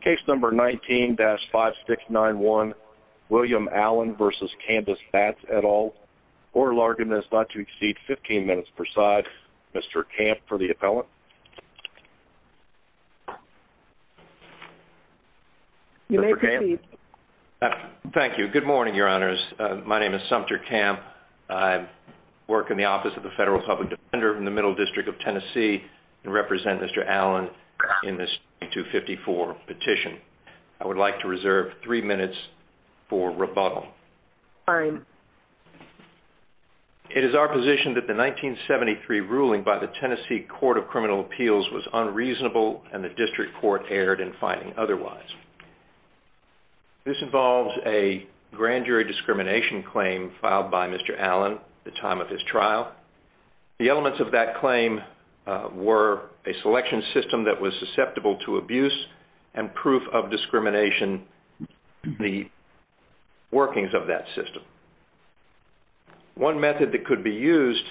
Case number 19-5691, William Allen v. Candice Batts, et al. Order largeness not to exceed 15 minutes per side. Mr. Camp for the appellant. You may proceed. Thank you. Good morning, Your Honors. My name is Sumter Camp. I work in the office of the Federal Public Defender in the Middle District of Tennessee and represent Mr. Allen in this 254. petition. I would like to reserve three minutes for rebuttal. It is our position that the 1973 ruling by the Tennessee Court of Criminal Appeals was unreasonable and the district court erred in finding otherwise. This involves a grand jury discrimination claim filed by Mr. Allen at the time of his trial. The elements of that claim were a selection system that was susceptible to abuse and proof of discrimination, the workings of that system. One method that could be used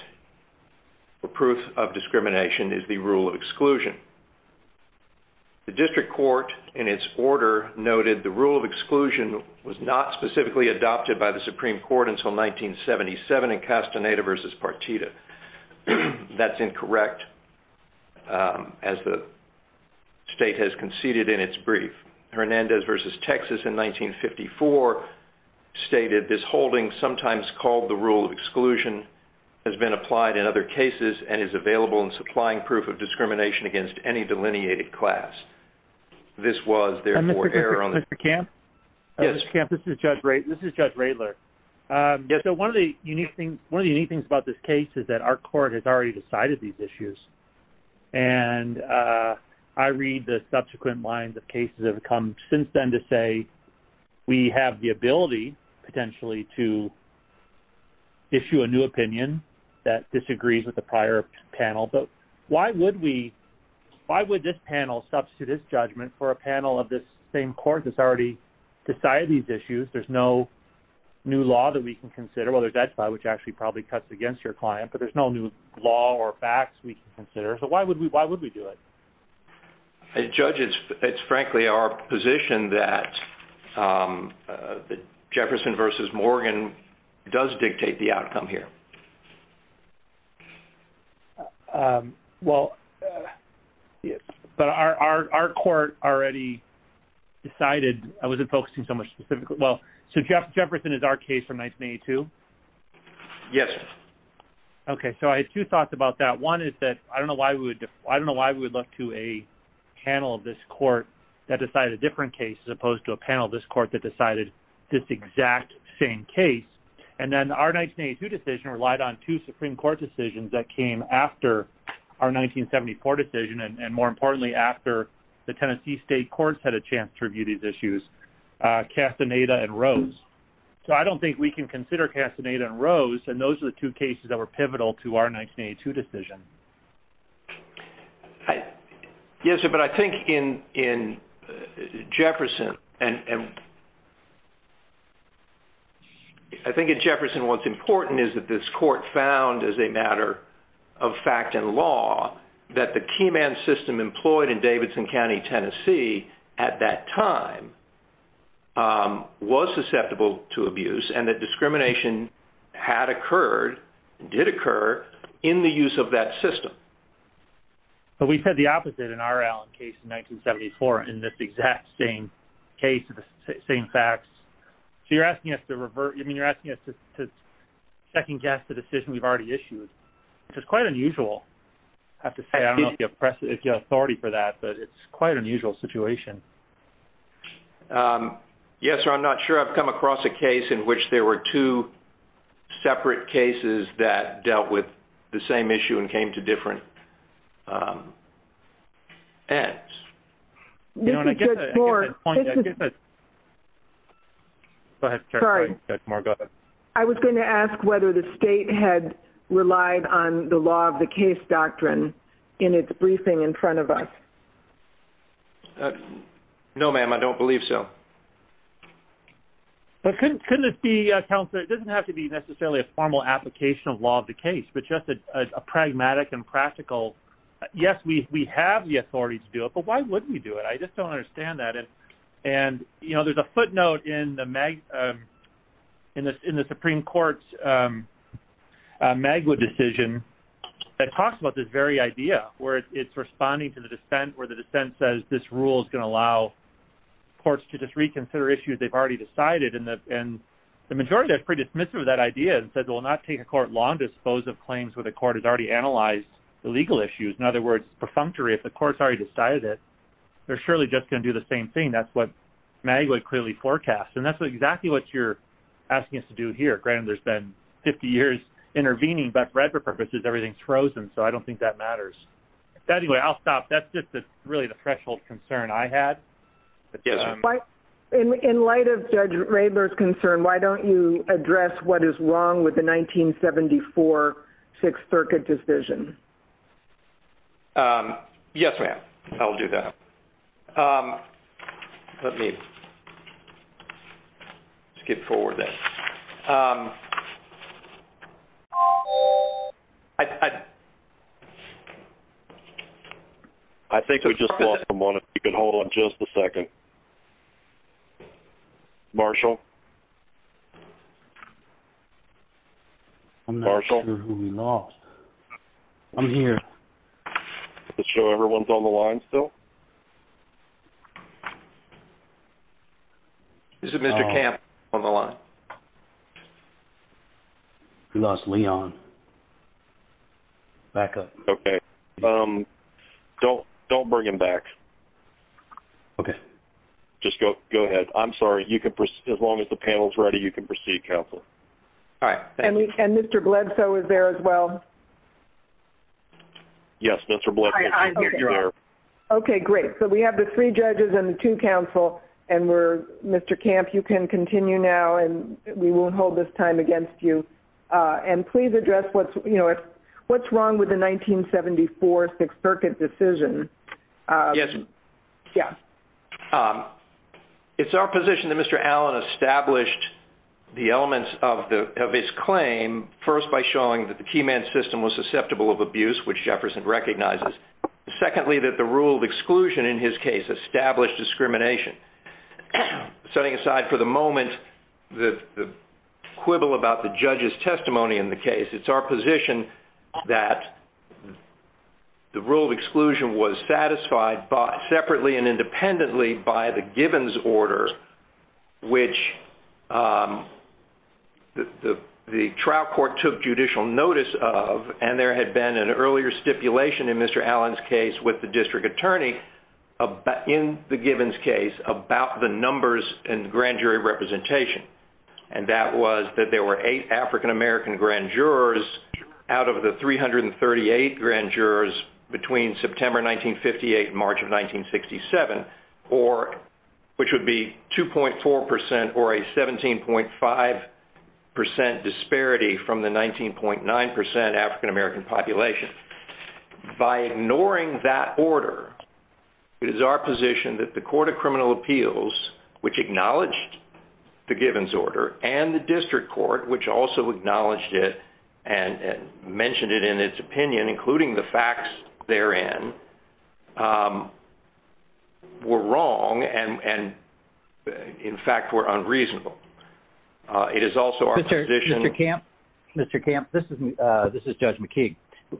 for proof of discrimination is the rule of exclusion. The district court in its order noted the rule of exclusion was not specifically adopted by the Supreme Court until 1977 in Castaneda v. Partita. That's incorrect as the state has conceded in its brief. Hernandez v. Texas in 1954 stated, this holding sometimes called the rule of exclusion has been applied in other cases and is available in supplying proof of discrimination against any delineated class. This was therefore error on the Mr. Camp? Yes. Mr. Camp, this is Judge Radler. Yes, so one of the unique things about this case is that our court has already decided these issues and I read the subsequent lines of cases that have come since then to say we have the ability potentially to issue a new opinion that disagrees with the prior panel, but why would we, why would this panel substitute its judgment for a panel of this same court that's already decided these issues? There's no new law that we can consider, whether that's by which actually probably cuts against your client, but there's no new law or facts we can consider. So why would we, why would we do it? Judge, it's, it's frankly our position that Jefferson v. Morgan does dictate the outcome here. Well, yes, but our, our, our court already decided, I wasn't focusing so much specifically, well, so Jefferson is our case from 1982? Yes. Okay, so I have two thoughts about that. One is that I don't know why we would, I don't know why we would look to a panel of this court that decided a different case as opposed to a panel of this court that decided this exact same case. And then our 1982 decision relied on two Supreme Court decisions that came after our 1974 decision, and more importantly, after the Tennessee state courts had a chance to review these issues, Castaneda and Rose. So I don't think we can consider Castaneda and Rose, and those are the two cases that were pivotal to our 1982 decision. Yes, but I think in, in Jefferson and I think in Jefferson, what's important is that this court found, as a matter of fact and law, that the key man system employed in Davidson County, Tennessee, at that time, was susceptible to abuse and that discrimination had occurred, did occur, in the use of that system. But we've had the opposite in our Allen case in 1974, in this exact same case, the same facts. So you're asking us to revert, I mean, you're asking us to second guess the decision we've already issued, which is quite unusual. I have to say, I don't know if you have authority for that, but it's quite an unusual situation. Yes, sir, I'm not sure I've come across a case in which there were two separate cases that dealt with the same issue and came to different ends. You know, and I guess at this point, I guess I, go ahead, go ahead, Judge Moore, go ahead. I was going to ask whether the state had relied on the law of the case doctrine in its briefing in front of us. No, ma'am, I don't believe so. But couldn't, couldn't it be, counsel, it doesn't have to be necessarily a formal application of law of the case, but just a pragmatic and practical, yes, we have the authority to do it, but why wouldn't we do it? I just don't understand that. And, you know, there's a footnote in the Supreme Court's MAGWA decision that talks about this very idea, where it's responding to the dissent, where the dissent says this rule is going to allow courts to just reconsider issues they've already decided. And the majority are pretty dismissive of that idea and said it will not take a court long to dispose of claims where the court has already analyzed the legal issues. In other words, perfunctory, if the court's already decided it, they're surely just going to do the same thing. That's what MAGWA clearly forecasts. And that's exactly what you're asking us to do here. Granted, there's been 50 years intervening, but for other purposes, everything's frozen. So I don't think that matters. But anyway, I'll stop. That's just really the threshold concern I had. In light of Judge Raebler's concern, why don't you address what is wrong with the 1974 Sixth Circuit decision? Yes, ma'am. I'll do that. Let me skip forward that. I think we just lost someone. If you could hold on just a second. Marshall? I'm not sure who we lost. I'm here. Just show everyone's on the line still. This is Mr. Camp on the line. We lost Leon. Back up. Okay. Don't bring him back. Okay. Just go ahead. I'm sorry. As long as the panel's ready, you can proceed, counsel. All right. And Mr. Bledsoe is there as well. Yes, Mr. Bledsoe, you're there. Okay, great. So we have the three judges and the two counsel, and Mr. Camp, you can continue now. We won't hold this time against you. And please address what's wrong with the 1974 Sixth Circuit decision. Yes, ma'am. Yeah. It's our position that Mr. Allen established the elements of his claim, first by showing that the key man system was susceptible of abuse, which Jefferson recognizes. Secondly, that the rule of exclusion in his case established discrimination. Setting aside for the moment the quibble about the judge's testimony in the case, it's our position that the rule of exclusion was satisfied separately and independently by the Gibbons order, which the trial court took judicial notice of, and there had been an earlier stipulation in Mr. Allen's case with the district attorney in the Gibbons case about the numbers and grand jury representation. And that was that there were eight African American grand jurors out of the 338 grand jurors between September 1958 and March of 1967, which would be 2.4% or a 17.5% disparity from the 19.9% African American population. By ignoring that order, it is our position that the Court of Criminal Appeals, which acknowledged the Gibbons order, and the district court, which also acknowledged it and mentioned it in its opinion, including the facts therein, were wrong and, in fact, were unreasonable. It is also our position- Mr. Camp, this is Judge McKee.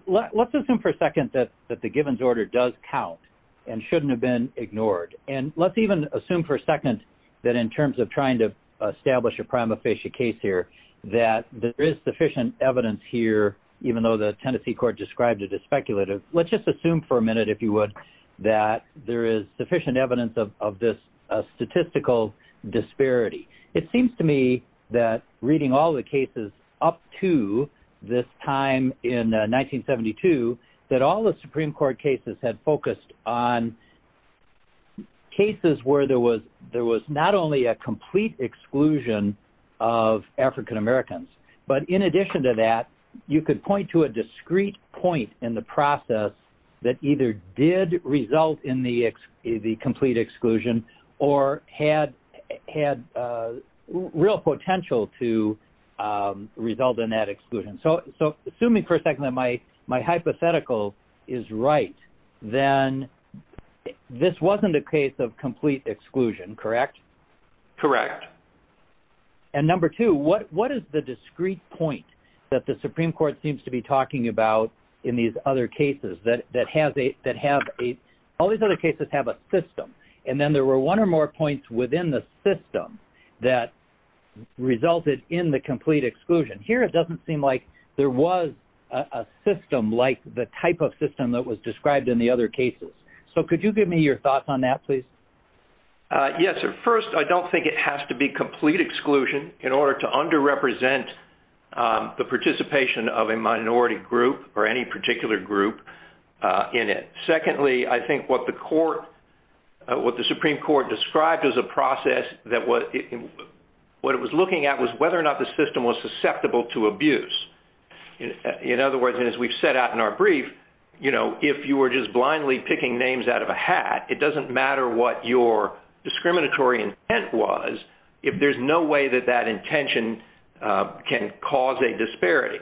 Let's assume for a second that the Gibbons order does count and shouldn't have been ignored. And let's even assume for a second that in terms of trying to establish a prima facie case here, that there is sufficient evidence here, even though the Tennessee court described it as speculative. Let's just assume for a minute, if you would, that there is sufficient evidence of this statistical disparity. It seems to me that reading all the cases up to this time in 1972, that all the Supreme Court cases had focused on cases where there was not only a complete exclusion of African Americans, but in addition to that, you could point to a discrete point in the process that either did result in the complete exclusion or had real potential to result in that exclusion. So assuming for a second that my hypothetical is right, then this wasn't a case of complete exclusion, correct? Correct. And number two, what is the discrete point that the Supreme Court seems to be talking about in these other cases that have a, all these other cases have a system, and then there were one or more points within the system that resulted in the complete exclusion. Here it doesn't seem like there was a system like the type of system that was described in the other cases. So could you give me your thoughts on that, please? Yes, sir. First, I don't think it has to be complete exclusion in order to underrepresent the participation of a minority group or any particular group in it. Secondly, I think what the court, what the Supreme Court described as a process that what it was looking at was whether or not the system was susceptible to abuse. In other words, and as we've set out in our brief, you know, if you were just blindly picking names out of a hat, it doesn't matter what your discriminatory intent was if there's no way that that intention can cause a disparity.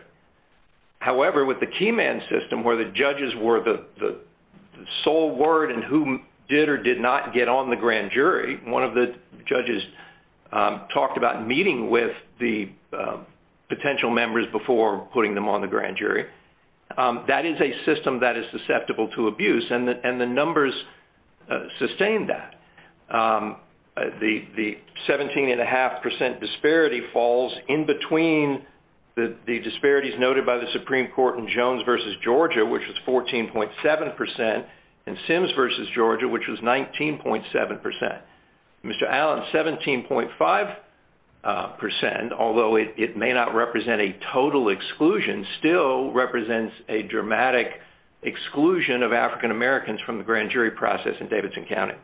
However, with the key man system where the judges were the sole word in who did or did not get on the grand jury, one of the judges talked about meeting with the potential members before putting them on the grand jury. That is a system that is susceptible to abuse, and the numbers sustain that. The 17.5 percent disparity falls in between the disparities noted by the Supreme Court in Jones v. Georgia, which was 14.7 percent, and Sims v. Georgia, which was 19.7 percent. Mr. Allen, 17.5 percent, although it may not represent a total exclusion, still represents a dramatic exclusion of African Americans from the grand jury process in Davidson County.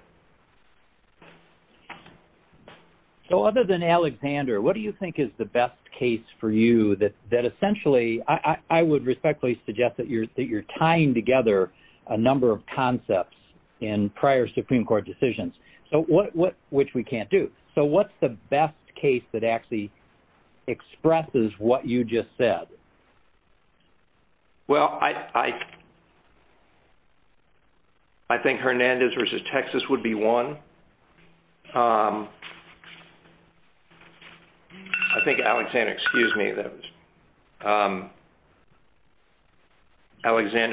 So, other than Alexander, what do you think is the best case for you that essentially, I would respectfully suggest that you're tying together a number of concepts in prior Supreme Court decisions, which we can't do. So, what's the best case that actually expresses what you just said? Well, I think Hernandez v. Texas would be one. I think Alexander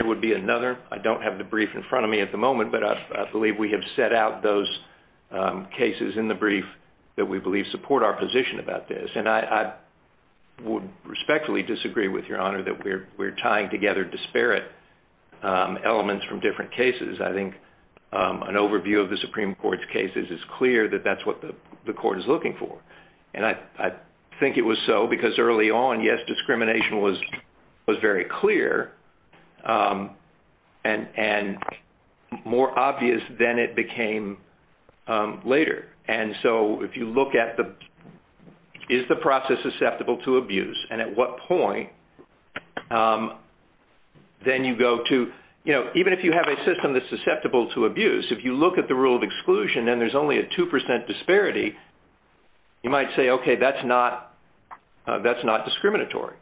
would be another. I don't have the brief in front of me at the moment, but I believe we have set out those cases in the brief that we believe support our position about this. I would respectfully disagree with your honor that we're tying together disparate elements from different cases. I think an overview of the Supreme Court's cases is clear that that's what the court is looking for. I think it was so because early on, yes, discrimination was very clear and more obvious than it became later. And so, if you look at is the process susceptible to abuse and at what point, then you go to, you know, even if you have a system that's susceptible to abuse, if you look at the rule of exclusion and there's only a 2% disparity, you might say, okay, that's not discriminatory.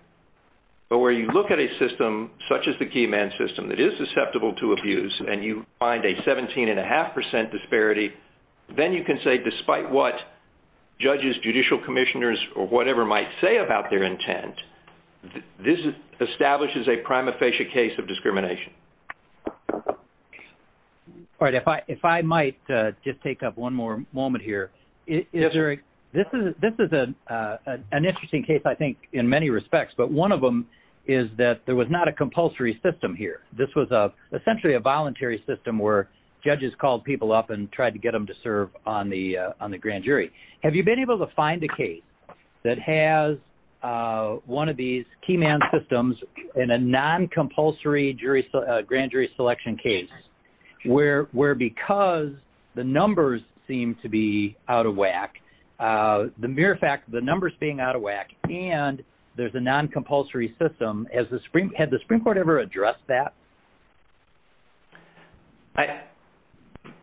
But where you look at a system such as the key man system that is susceptible to abuse and you find a 17.5% disparity, then you can say despite what judges, judicial commissioners, or whatever might say about their intent, this establishes a prima facie case of discrimination. All right. If I might just take up one more moment here, this is an interesting case, I think, in many respects, but one of them is that there was not a compulsory system here. This was essentially a voluntary system where judges called people up and tried to get them to serve on the grand jury. Have you been able to find a case that has one of these key man systems in a non-compulsory grand jury selection case where because the numbers seem to be out of whack, the mere fact the numbers being out of whack and there's a non-compulsory system, had the Supreme Court ever addressed that?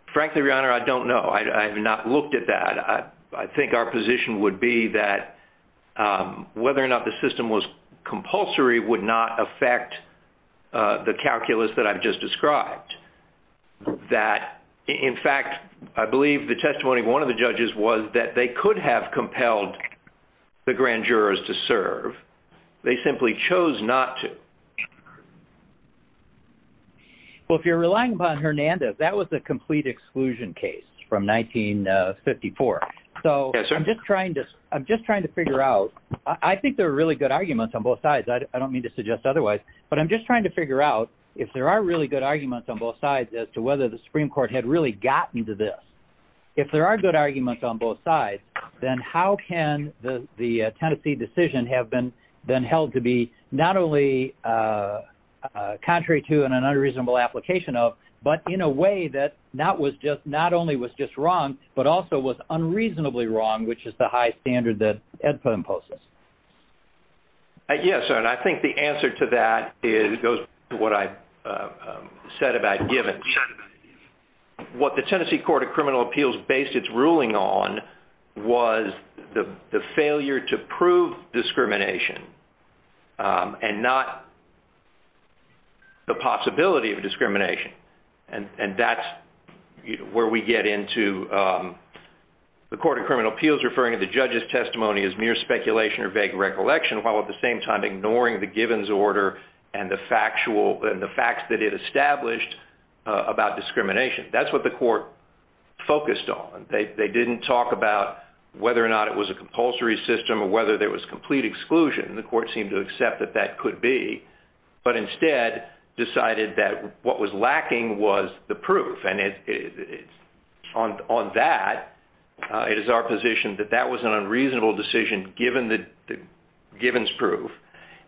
Frankly, Your Honor, I don't know. I have not looked at that. I think our position would be that whether or not the system was compulsory would not affect the calculus that I've just described. That, in fact, I believe the testimony of one of the judges was that they could have compelled the grand jurors to serve. They simply chose not to. Well, if you're relying upon Hernandez, that was the complete exclusion case from 1954. So I'm just trying to figure out, I think there are really good arguments on both sides. I don't mean to suggest otherwise, but I'm just trying to figure out if there are really good arguments on both sides as to whether the Supreme Court had really gotten to this. If there are good arguments on both sides, then how can the Tennessee decision have been held to be not only contrary to and an unreasonable application of, but in a way that not only was just wrong, but also was unreasonably wrong, which is the high standard that AEDPA imposes? Yes, and I think the answer to that goes to what I said about givens. What the Tennessee Court of Criminal Appeals based its ruling on was the failure to prove discrimination and not the possibility of discrimination. And that's where we get into the Court of Criminal Appeals referring to the judge's testimony as mere speculation or vague recollection, while at the same time ignoring the That's what the court focused on. They didn't talk about whether or not it was a compulsory system or whether there was complete exclusion. The court seemed to accept that that could be, but instead decided that what was lacking was the proof. And on that, it is our position that that was an unreasonable decision given the givens proof.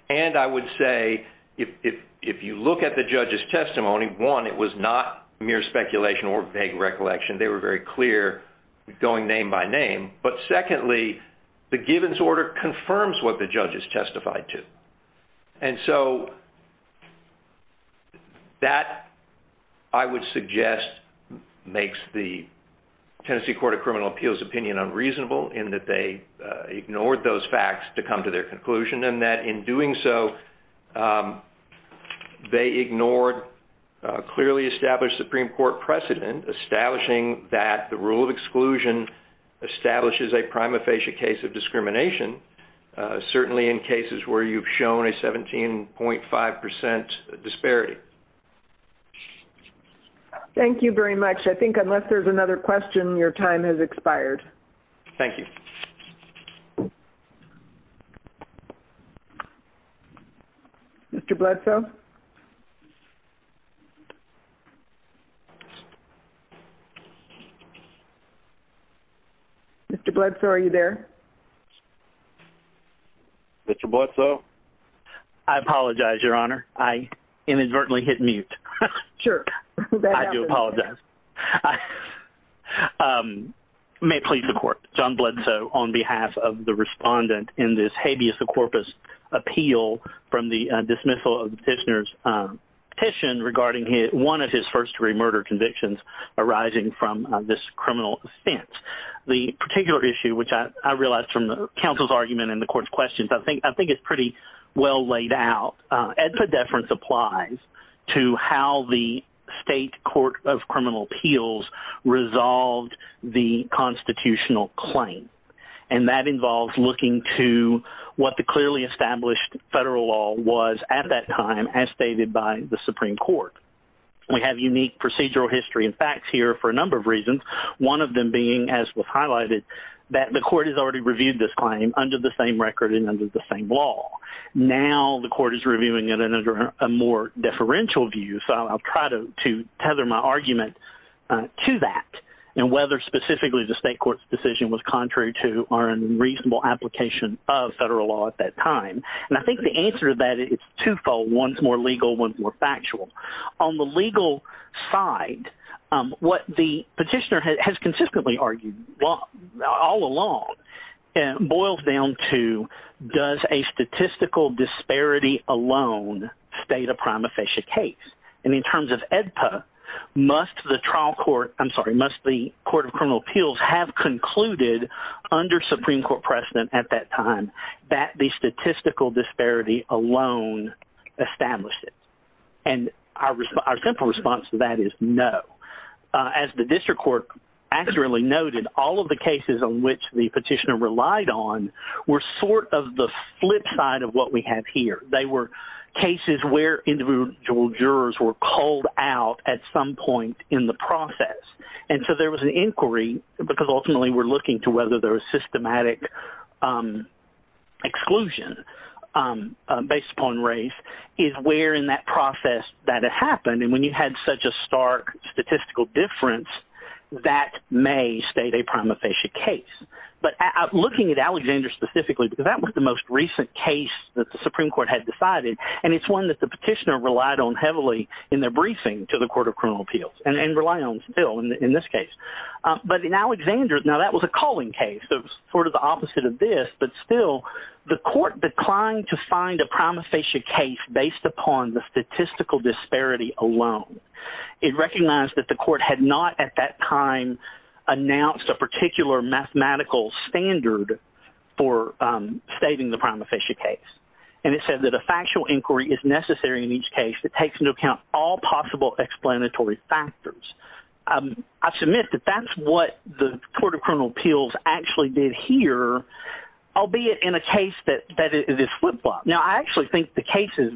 And I would say if you look at the judge's testimony, one, it was not mere speculation or vague recollection. They were very clear going name by name. But secondly, the givens order confirms what the judge has testified to. And so that, I would suggest, makes the Tennessee Court of Criminal Appeals opinion unreasonable in that they ignored those facts to come to their conclusion. And that in doing so, they ignored clearly established Supreme Court precedent establishing that the rule of exclusion establishes a prima facie case of discrimination, certainly in cases where you've shown a 17.5% disparity. Thank you very much. I think unless there's another question, your time has expired. Thank you. Mr. Bledsoe? Mr. Bledsoe, are you there? Mr. Bledsoe? I apologize, Your Honor. I inadvertently hit mute. Sure. I do apologize. May it please the Court, John Bledsoe on behalf of the respondent in this habeas corpus appeal from the dismissal of the petitioner's petition regarding one of his first-degree murder convictions arising from this criminal offense. The particular issue, which I realized from the counsel's argument and the Court's questions, I think it's pretty well laid out. Edpedeference applies to how the State Court of Criminal Appeals resolved the constitutional claim. And that involves looking to what the clearly established federal law was at that time, as stated by the Supreme Court. We have unique procedural history and facts here for a number of reasons, one of them being, as was highlighted, that the Court has already reviewed this claim under the same record and under the same law. Now the Court is reviewing it under a more deferential view, so I'll try to tether my argument to that and whether specifically the State Court's decision was contrary to our unreasonable application of federal law at that time. And I think the answer to that is twofold. One's more legal, one's more factual. On the legal side, what the petitioner has consistently argued all along boils down to does a statistical disparity alone state a prima facie case? And in terms of EDPA, must the Court of Criminal Appeals have concluded under Supreme Court precedent at that time that the statistical disparity alone established it? And our simple response to that is no. As the district court accurately noted, all of the cases on which the petitioner relied on were sort of the flip side of what we have here. They were cases where individual jurors were called out at some point in the process. And so there was an inquiry, because ultimately we're looking to whether there was systematic exclusion based upon race, is where in that process that it happened. And when you had such a stark statistical difference, that may state a prima facie case. But looking at Alexander specifically, because that was the most recent case that the Supreme Court had decided. And it's one that the petitioner relied on heavily in their briefing to the Court of Criminal Appeals, and rely on still in this case. But in Alexander, now that was a calling case. It was sort of the opposite of this. But still, the court declined to find a prima facie case based upon the statistical disparity alone. It recognized that the court had not at that time announced a particular mathematical standard for stating the prima facie case. And it said that a factual inquiry is necessary in each case that takes into account all possible explanatory factors. I submit that that's what the Court of Criminal Appeals actually did here, albeit in a case that is a flip flop. Now, I actually think the cases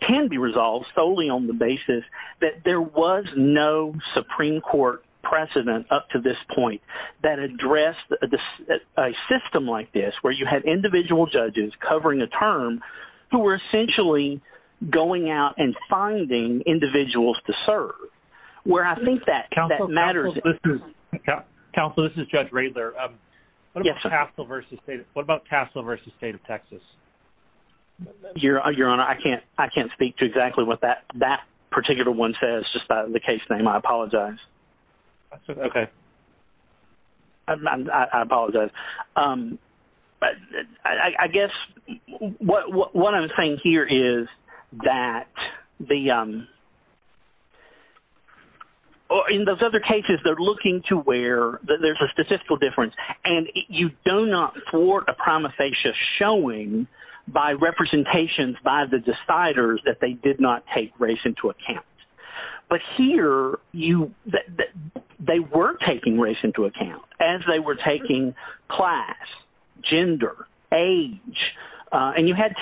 can be resolved solely on the basis that there was no Supreme Court precedent up to this point that addressed a system like this, where you had individual judges covering a term who were essentially going out and finding individuals to serve. Where I think that matters. Counsel, this is Judge Radler. What about Castle v. State of Texas? Your Honor, I can't speak to exactly what that particular one says, just the case name. I apologize. Okay. I apologize. I guess what I'm saying here is that in those other cases, they're looking to where there's a statistical difference. And you do not thwart a prima facie showing by representations by the deciders that they did not take race into account. But here, they were taking race into account, as they were taking class, gender, age, and you had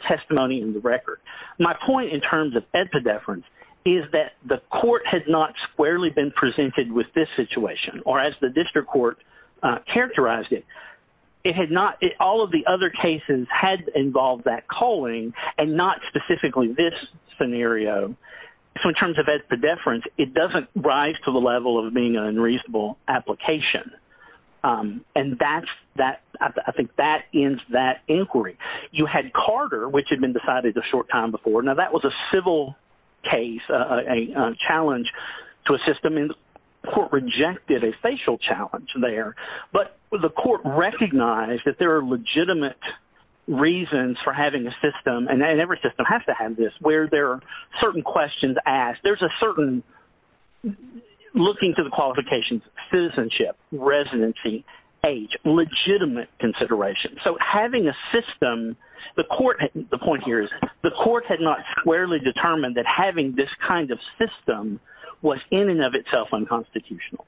testimony in the record. My point in terms of epidefference is that the court had not squarely been presented with this situation, or as the district court characterized it. It had not, all of the other cases had involved that calling, and not specifically this scenario. So in terms of epidefference, it doesn't rise to the level of being an unreasonable application. And that's, I think that ends that inquiry. You had Carter, which had been decided a short time before. Now, that was a civil case, a challenge to a system, and the court rejected a facial challenge there. But the court recognized that there are legitimate reasons for having a system, and every system has to have this, where there are certain questions asked. There's a certain looking to the qualifications, citizenship, residency, age, legitimate consideration. So having a system, the court, the point here is the court had not squarely determined that having this kind of system was in and of itself unconstitutional.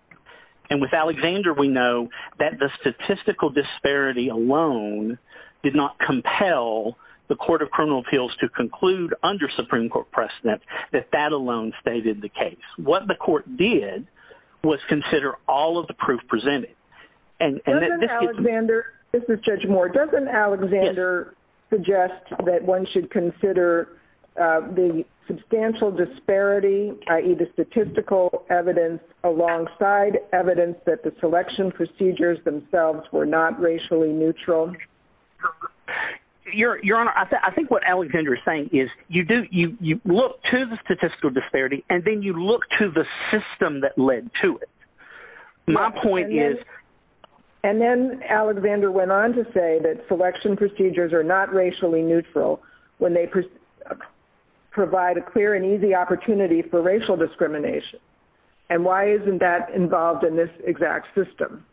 And with Alexander, we know that the statistical disparity alone did not compel the Court of Criminal Appeals to conclude under Supreme Court precedent that that alone stated the case. What the court did was consider all of the proof presented. And that this could- Doesn't Alexander, this is Judge Moore. Doesn't Alexander suggest that one should consider the substantial disparity, i.e. the statistical evidence alongside evidence that the selection procedures themselves were not racially neutral? Your Honor, I think what Alexander is saying is you look to the statistical disparity, and then you look to the system that led to it. My point is- And then Alexander went on to say that selection procedures are not racially neutral when they provide a clear and easy opportunity for racial discrimination. And why isn't that involved in this exact system?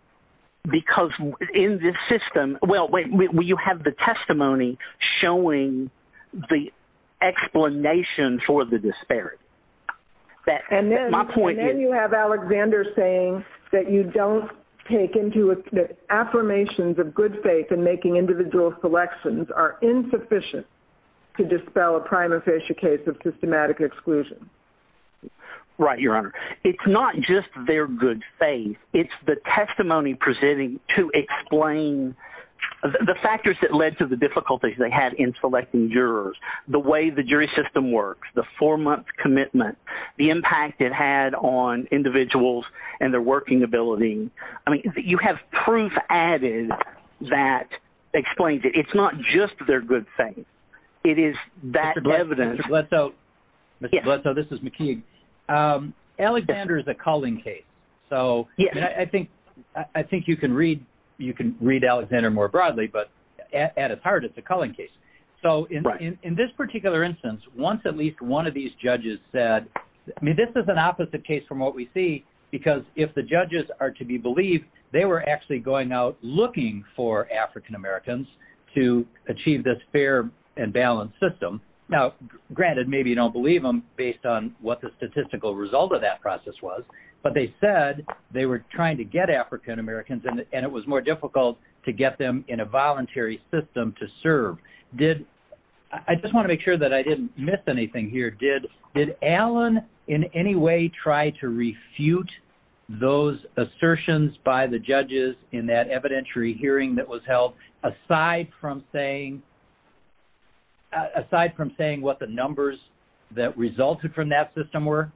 Because in this system- Well, you have the testimony showing the explanation for the disparity. And then you have Alexander saying that you don't take into- Affirmations of good faith in making individual selections are insufficient to dispel a prima facie case of systematic exclusion. Right, Your Honor. It's not just their good faith. It's the testimony presenting to explain the factors that led to the difficulties they had in selecting jurors, the way the jury system works, the four-month commitment, the impact it had on individuals and their working ability. I mean, you have proof added that explains it. It's not just their good faith. It is that evidence- Mr. Bledsoe, this is McKeague. Alexander is a culling case. So I think you can read Alexander more broadly, but at its heart, it's a culling case. So in this particular instance, once at least one of these judges said- This is an opposite case from what we see, because if the judges are to be believed, they were actually going out looking for African-Americans to achieve this fair and balanced system. Now, granted, maybe you don't believe them based on what the statistical result of that process was, but they said they were trying to get African-Americans, and it was more difficult to get them in a voluntary system to serve. I just want to make sure that I didn't miss anything here. Did Alan in any way try to refute those assertions by the judges in that evidentiary hearing that was held, aside from saying what the numbers that resulted from that system were?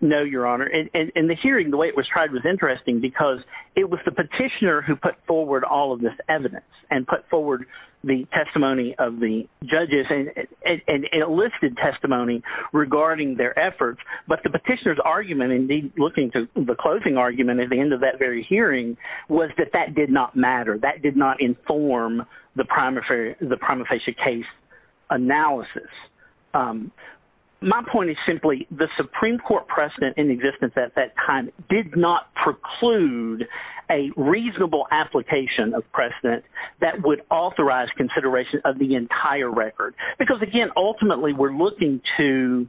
No, Your Honor. In the hearing, the way it was tried was interesting, because it was the petitioner who put forward all of this evidence and put forward the testimony of the judges, and it lifted testimony regarding their efforts. But the petitioner's argument, indeed looking to the closing argument at the end of that very hearing, was that that did not matter. That did not inform the prima facie case analysis. My point is simply, the Supreme Court precedent in existence at that time did not preclude a reasonable application of precedent that would authorize consideration of the entire record. Because, again, ultimately we're looking to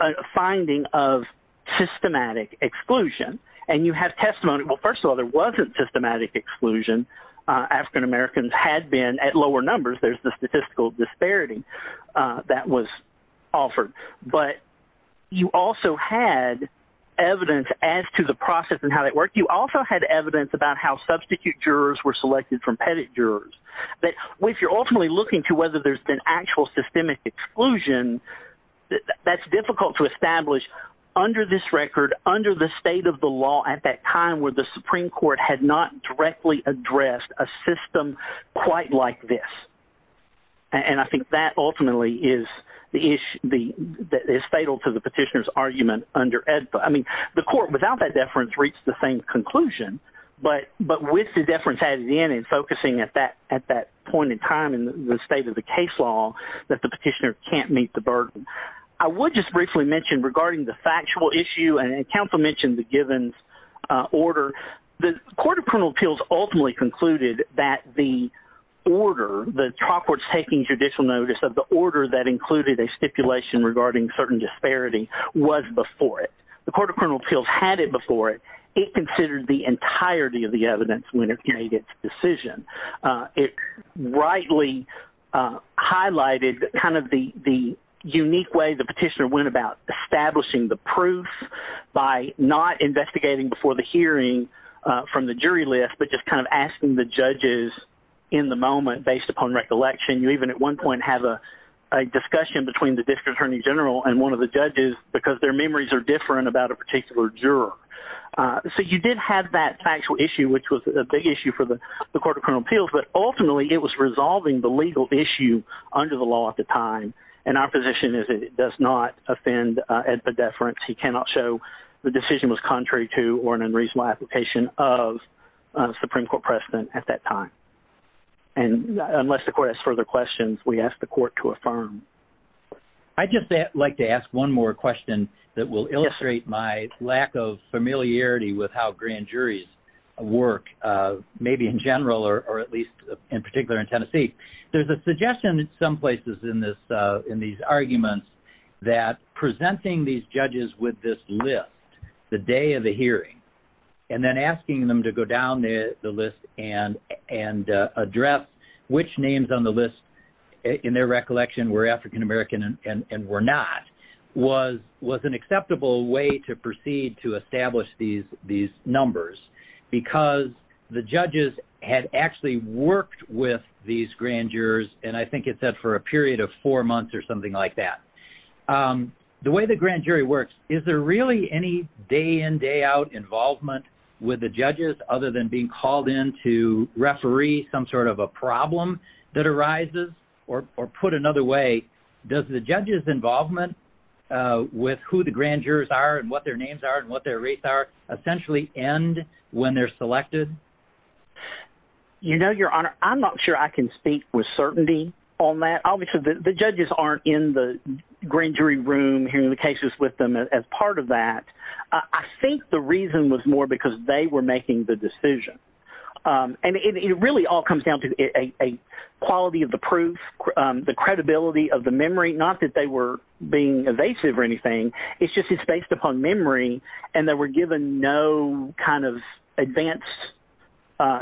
a finding of systematic exclusion, and you have testimony. Well, first of all, there wasn't systematic exclusion. African-Americans had been at lower numbers. There's the statistical disparity that was offered. But you also had evidence as to the process and how that worked. You also had evidence about how substitute jurors were selected from pettit jurors. But if you're ultimately looking to whether there's been actual systemic exclusion, that's difficult to establish under this record, under the state of the law at that time where the Supreme Court had not directly addressed a system quite like this. And I think that ultimately is the issue that is fatal to the petitioner's argument. I mean, the court without that deference reached the same conclusion, but with the deference added in and focusing at that point in time in the state of the case law that the petitioner can't meet the burden. I would just briefly mention regarding the factual issue, and counsel mentioned the Givens order. The Court of Criminal Appeals ultimately concluded that the order, the trial court's taking judicial notice of the order that included a stipulation regarding certain disparity was before it. The Court of Criminal Appeals had it before it. It considered the entirety of the evidence when it made its decision. It rightly highlighted kind of the unique way the petitioner went about establishing the proof by not investigating before the hearing from the jury list, but just kind of asking the judges in the moment based upon recollection. You even at one point have a discussion between the district attorney general and one of the judges because their memories are different about a particular juror. So you did have that factual issue, which was a big issue for the Court of Criminal Appeals, but ultimately it was resolving the legal issue under the law at the time, and our position is it does not offend at the deference. He cannot show the decision was contrary to or an unreasonable application of Supreme Court precedent at that time. And unless the court has further questions, we ask the court to affirm. I'd just like to ask one more question that will illustrate my lack of familiarity with how grand juries work, maybe in general or at least in particular in Tennessee. There's a suggestion in some places in these arguments that presenting these judges with this list the day of the hearing and then asking them to go down the list and address which names on the list in their recollection were African American and were not was an acceptable way to proceed to establish these numbers because the judges had actually worked with these grand jurors, and I think it said for a period of four months or something like that. The way the grand jury works, is there really any day-in, day-out involvement with the judges other than being called in to referee some sort of a problem that arises? Or put another way, does the judges' involvement with who the grand jurors are and what their names are and what their rates are essentially end when they're selected? You know, Your Honor, I'm not sure I can speak with certainty on that. Obviously, the judges aren't in the grand jury room hearing the cases with them as part of that. I think the reason was more because they were making the decision. And it really all comes down to a quality of the proof, the credibility of the memory, not that they were being evasive or anything. It's just it's based upon memory, and they were given no kind of advanced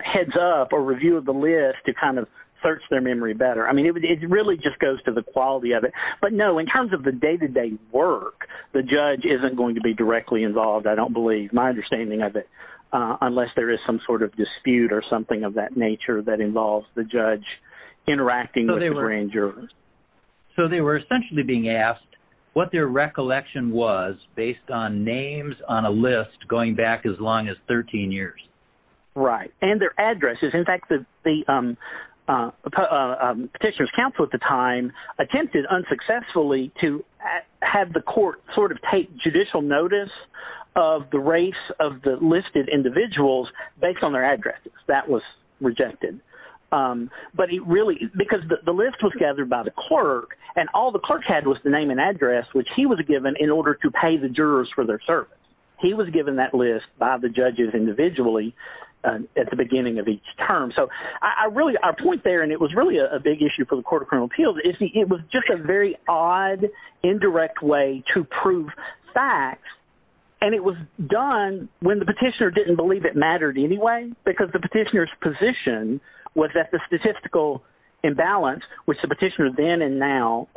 heads up or review of the list to kind of search their memory better. I mean, it really just goes to the quality of it. But no, in terms of the day-to-day work, the judge isn't going to be directly involved, I don't believe, my understanding of it, unless there is some sort of dispute or something of that nature that involves the judge interacting with the grand jurors. So they were essentially being asked what their recollection was based on names on a list going back as long as 13 years. Right. And their addresses. In fact, the petitioner's counsel at the time attempted unsuccessfully to have the court sort of take judicial notice of the race of the listed individuals based on their addresses. That was rejected. Because the list was gathered by the clerk, and all the clerk had was the name and address, which he was given in order to pay the jurors for their service. He was given that list by the judges individually at the beginning of each term. So I really, our point there, and it was really a big issue for the Court of Criminal Appeals, is it was just a very odd, indirect way to prove facts. And it was done when the petitioner didn't believe it mattered anyway, because the petitioner's position was that the statistical imbalance, which the petitioner then and now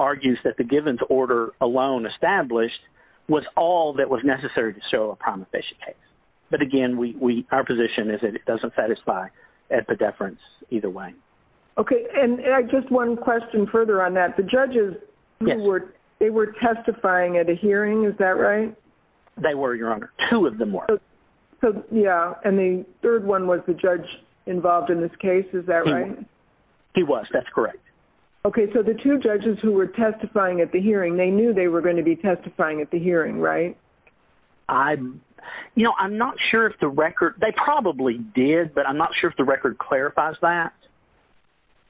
was all that was necessary to show a promiscuous case. But again, our position is that it doesn't satisfy a pedeference either way. Okay. And just one question further on that. The judges, they were testifying at a hearing, is that right? They were, Your Honor. Two of them were. Yeah. And the third one was the judge involved in this case, is that right? He was. That's correct. Okay. So the two judges who were testifying at the hearing, they knew they were going to be at the hearing, right? I'm, you know, I'm not sure if the record, they probably did, but I'm not sure if the record clarifies that.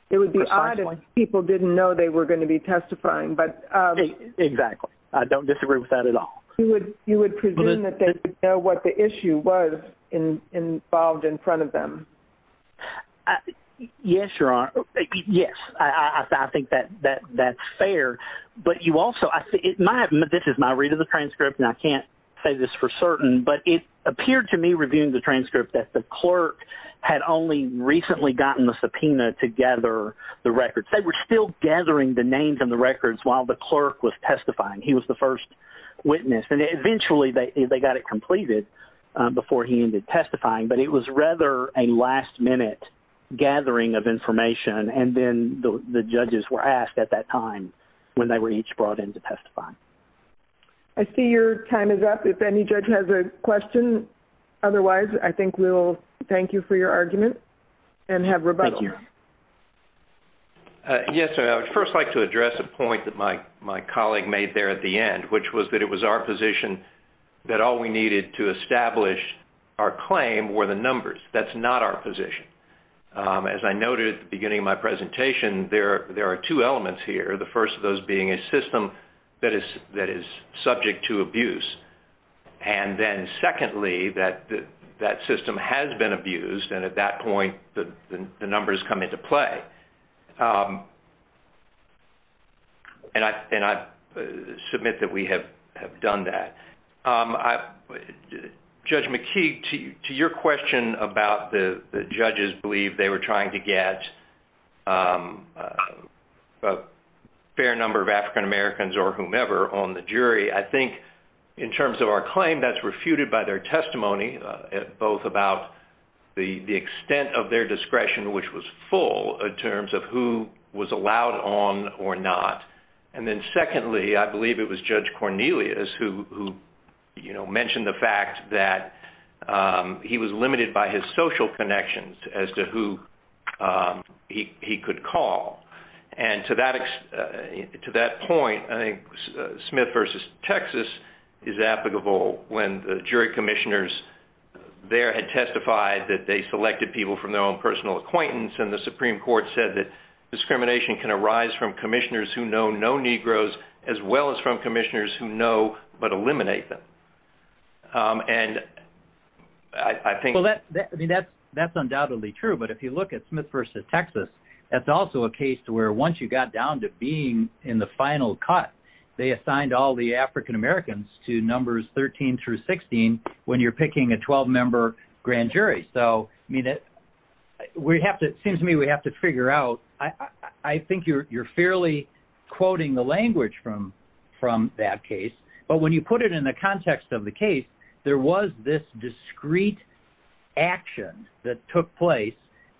It would be odd if people didn't know they were going to be testifying, but. Exactly. I don't disagree with that at all. You would presume that they would know what the issue was involved in front of them. Yes, Your Honor. Yes, I think that's fair. But you also, this is my read of the transcript, and I can't say this for certain, but it appeared to me reviewing the transcript that the clerk had only recently gotten the subpoena to gather the records. They were still gathering the names and the records while the clerk was testifying. He was the first witness. And eventually they got it completed before he ended testifying, but it was rather a last-minute gathering of information, and then the judges were asked at that time when they were each brought in to testify. I see your time is up. If any judge has a question otherwise, I think we'll thank you for your argument and have rebuttal. Thank you. Yes, Your Honor. I would first like to address a point that my colleague made there at the end, which was that it was our position that all we needed to establish our claim were the numbers. That's not our position. As I noted at the beginning of my presentation, there are two elements here, the first of those being a system that is subject to abuse. And then secondly, that system has been abused, and at that point the numbers come into play. And I submit that we have done that. I... Judge McKee, to your question about the judges believe they were trying to get a fair number of African Americans or whomever on the jury, I think in terms of our claim, that's refuted by their testimony, both about the extent of their discretion, which was full in terms of who was allowed on or not. And then secondly, I believe it was Judge Cornelius who mentioned the fact that he was limited by his social connections as to who he could call. And to that point, I think Smith v. Texas is applicable when the jury commissioners there had testified that they selected people from their own personal acquaintance, and the Supreme Court said that discrimination can arise from commissioners who know no Negroes as well as from commissioners who know but eliminate them. And I think... Well, I mean, that's undoubtedly true, but if you look at Smith v. Texas, that's also a case to where once you got down to being in the final cut, they assigned all the African Americans to numbers 13 through 16 when you're picking a 12-member grand jury. So, I mean, it seems to me we have to figure out, I think you're fairly quoting the language from that case. But when you put it in the context of the case, there was this discrete action that took place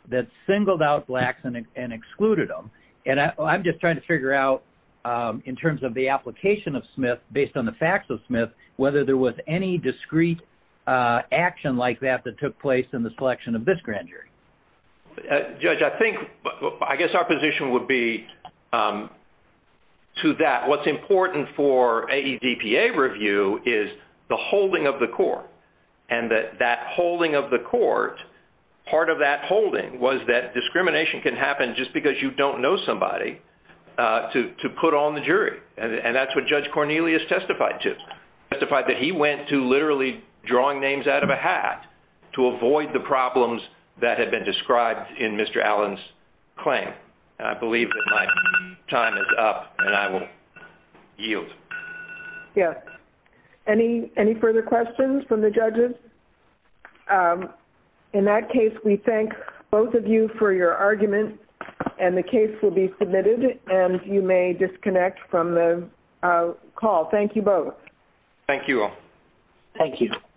that singled out Blacks and excluded them. And I'm just trying to figure out, in terms of the application of Smith, based on the facts of Smith, whether there was any discrete action like that that took place in the selection of this grand jury. Judge, I think... I guess our position would be to that. What's important for AEDPA review is the holding of the court, and that holding of the court, part of that holding was that discrimination can happen just because you don't know somebody to put on the jury. And that's what Judge Cornelius testified to. He testified that he went to literally drawing names out of a hat to avoid the problems that had been described in Mr. Allen's claim. And I believe that my time is up, and I will yield. Yes. Any further questions from the judges? In that case, we thank both of you for your argument, and the case will be submitted, and you may disconnect from the call. Thank you both. Thank you all. Thank you.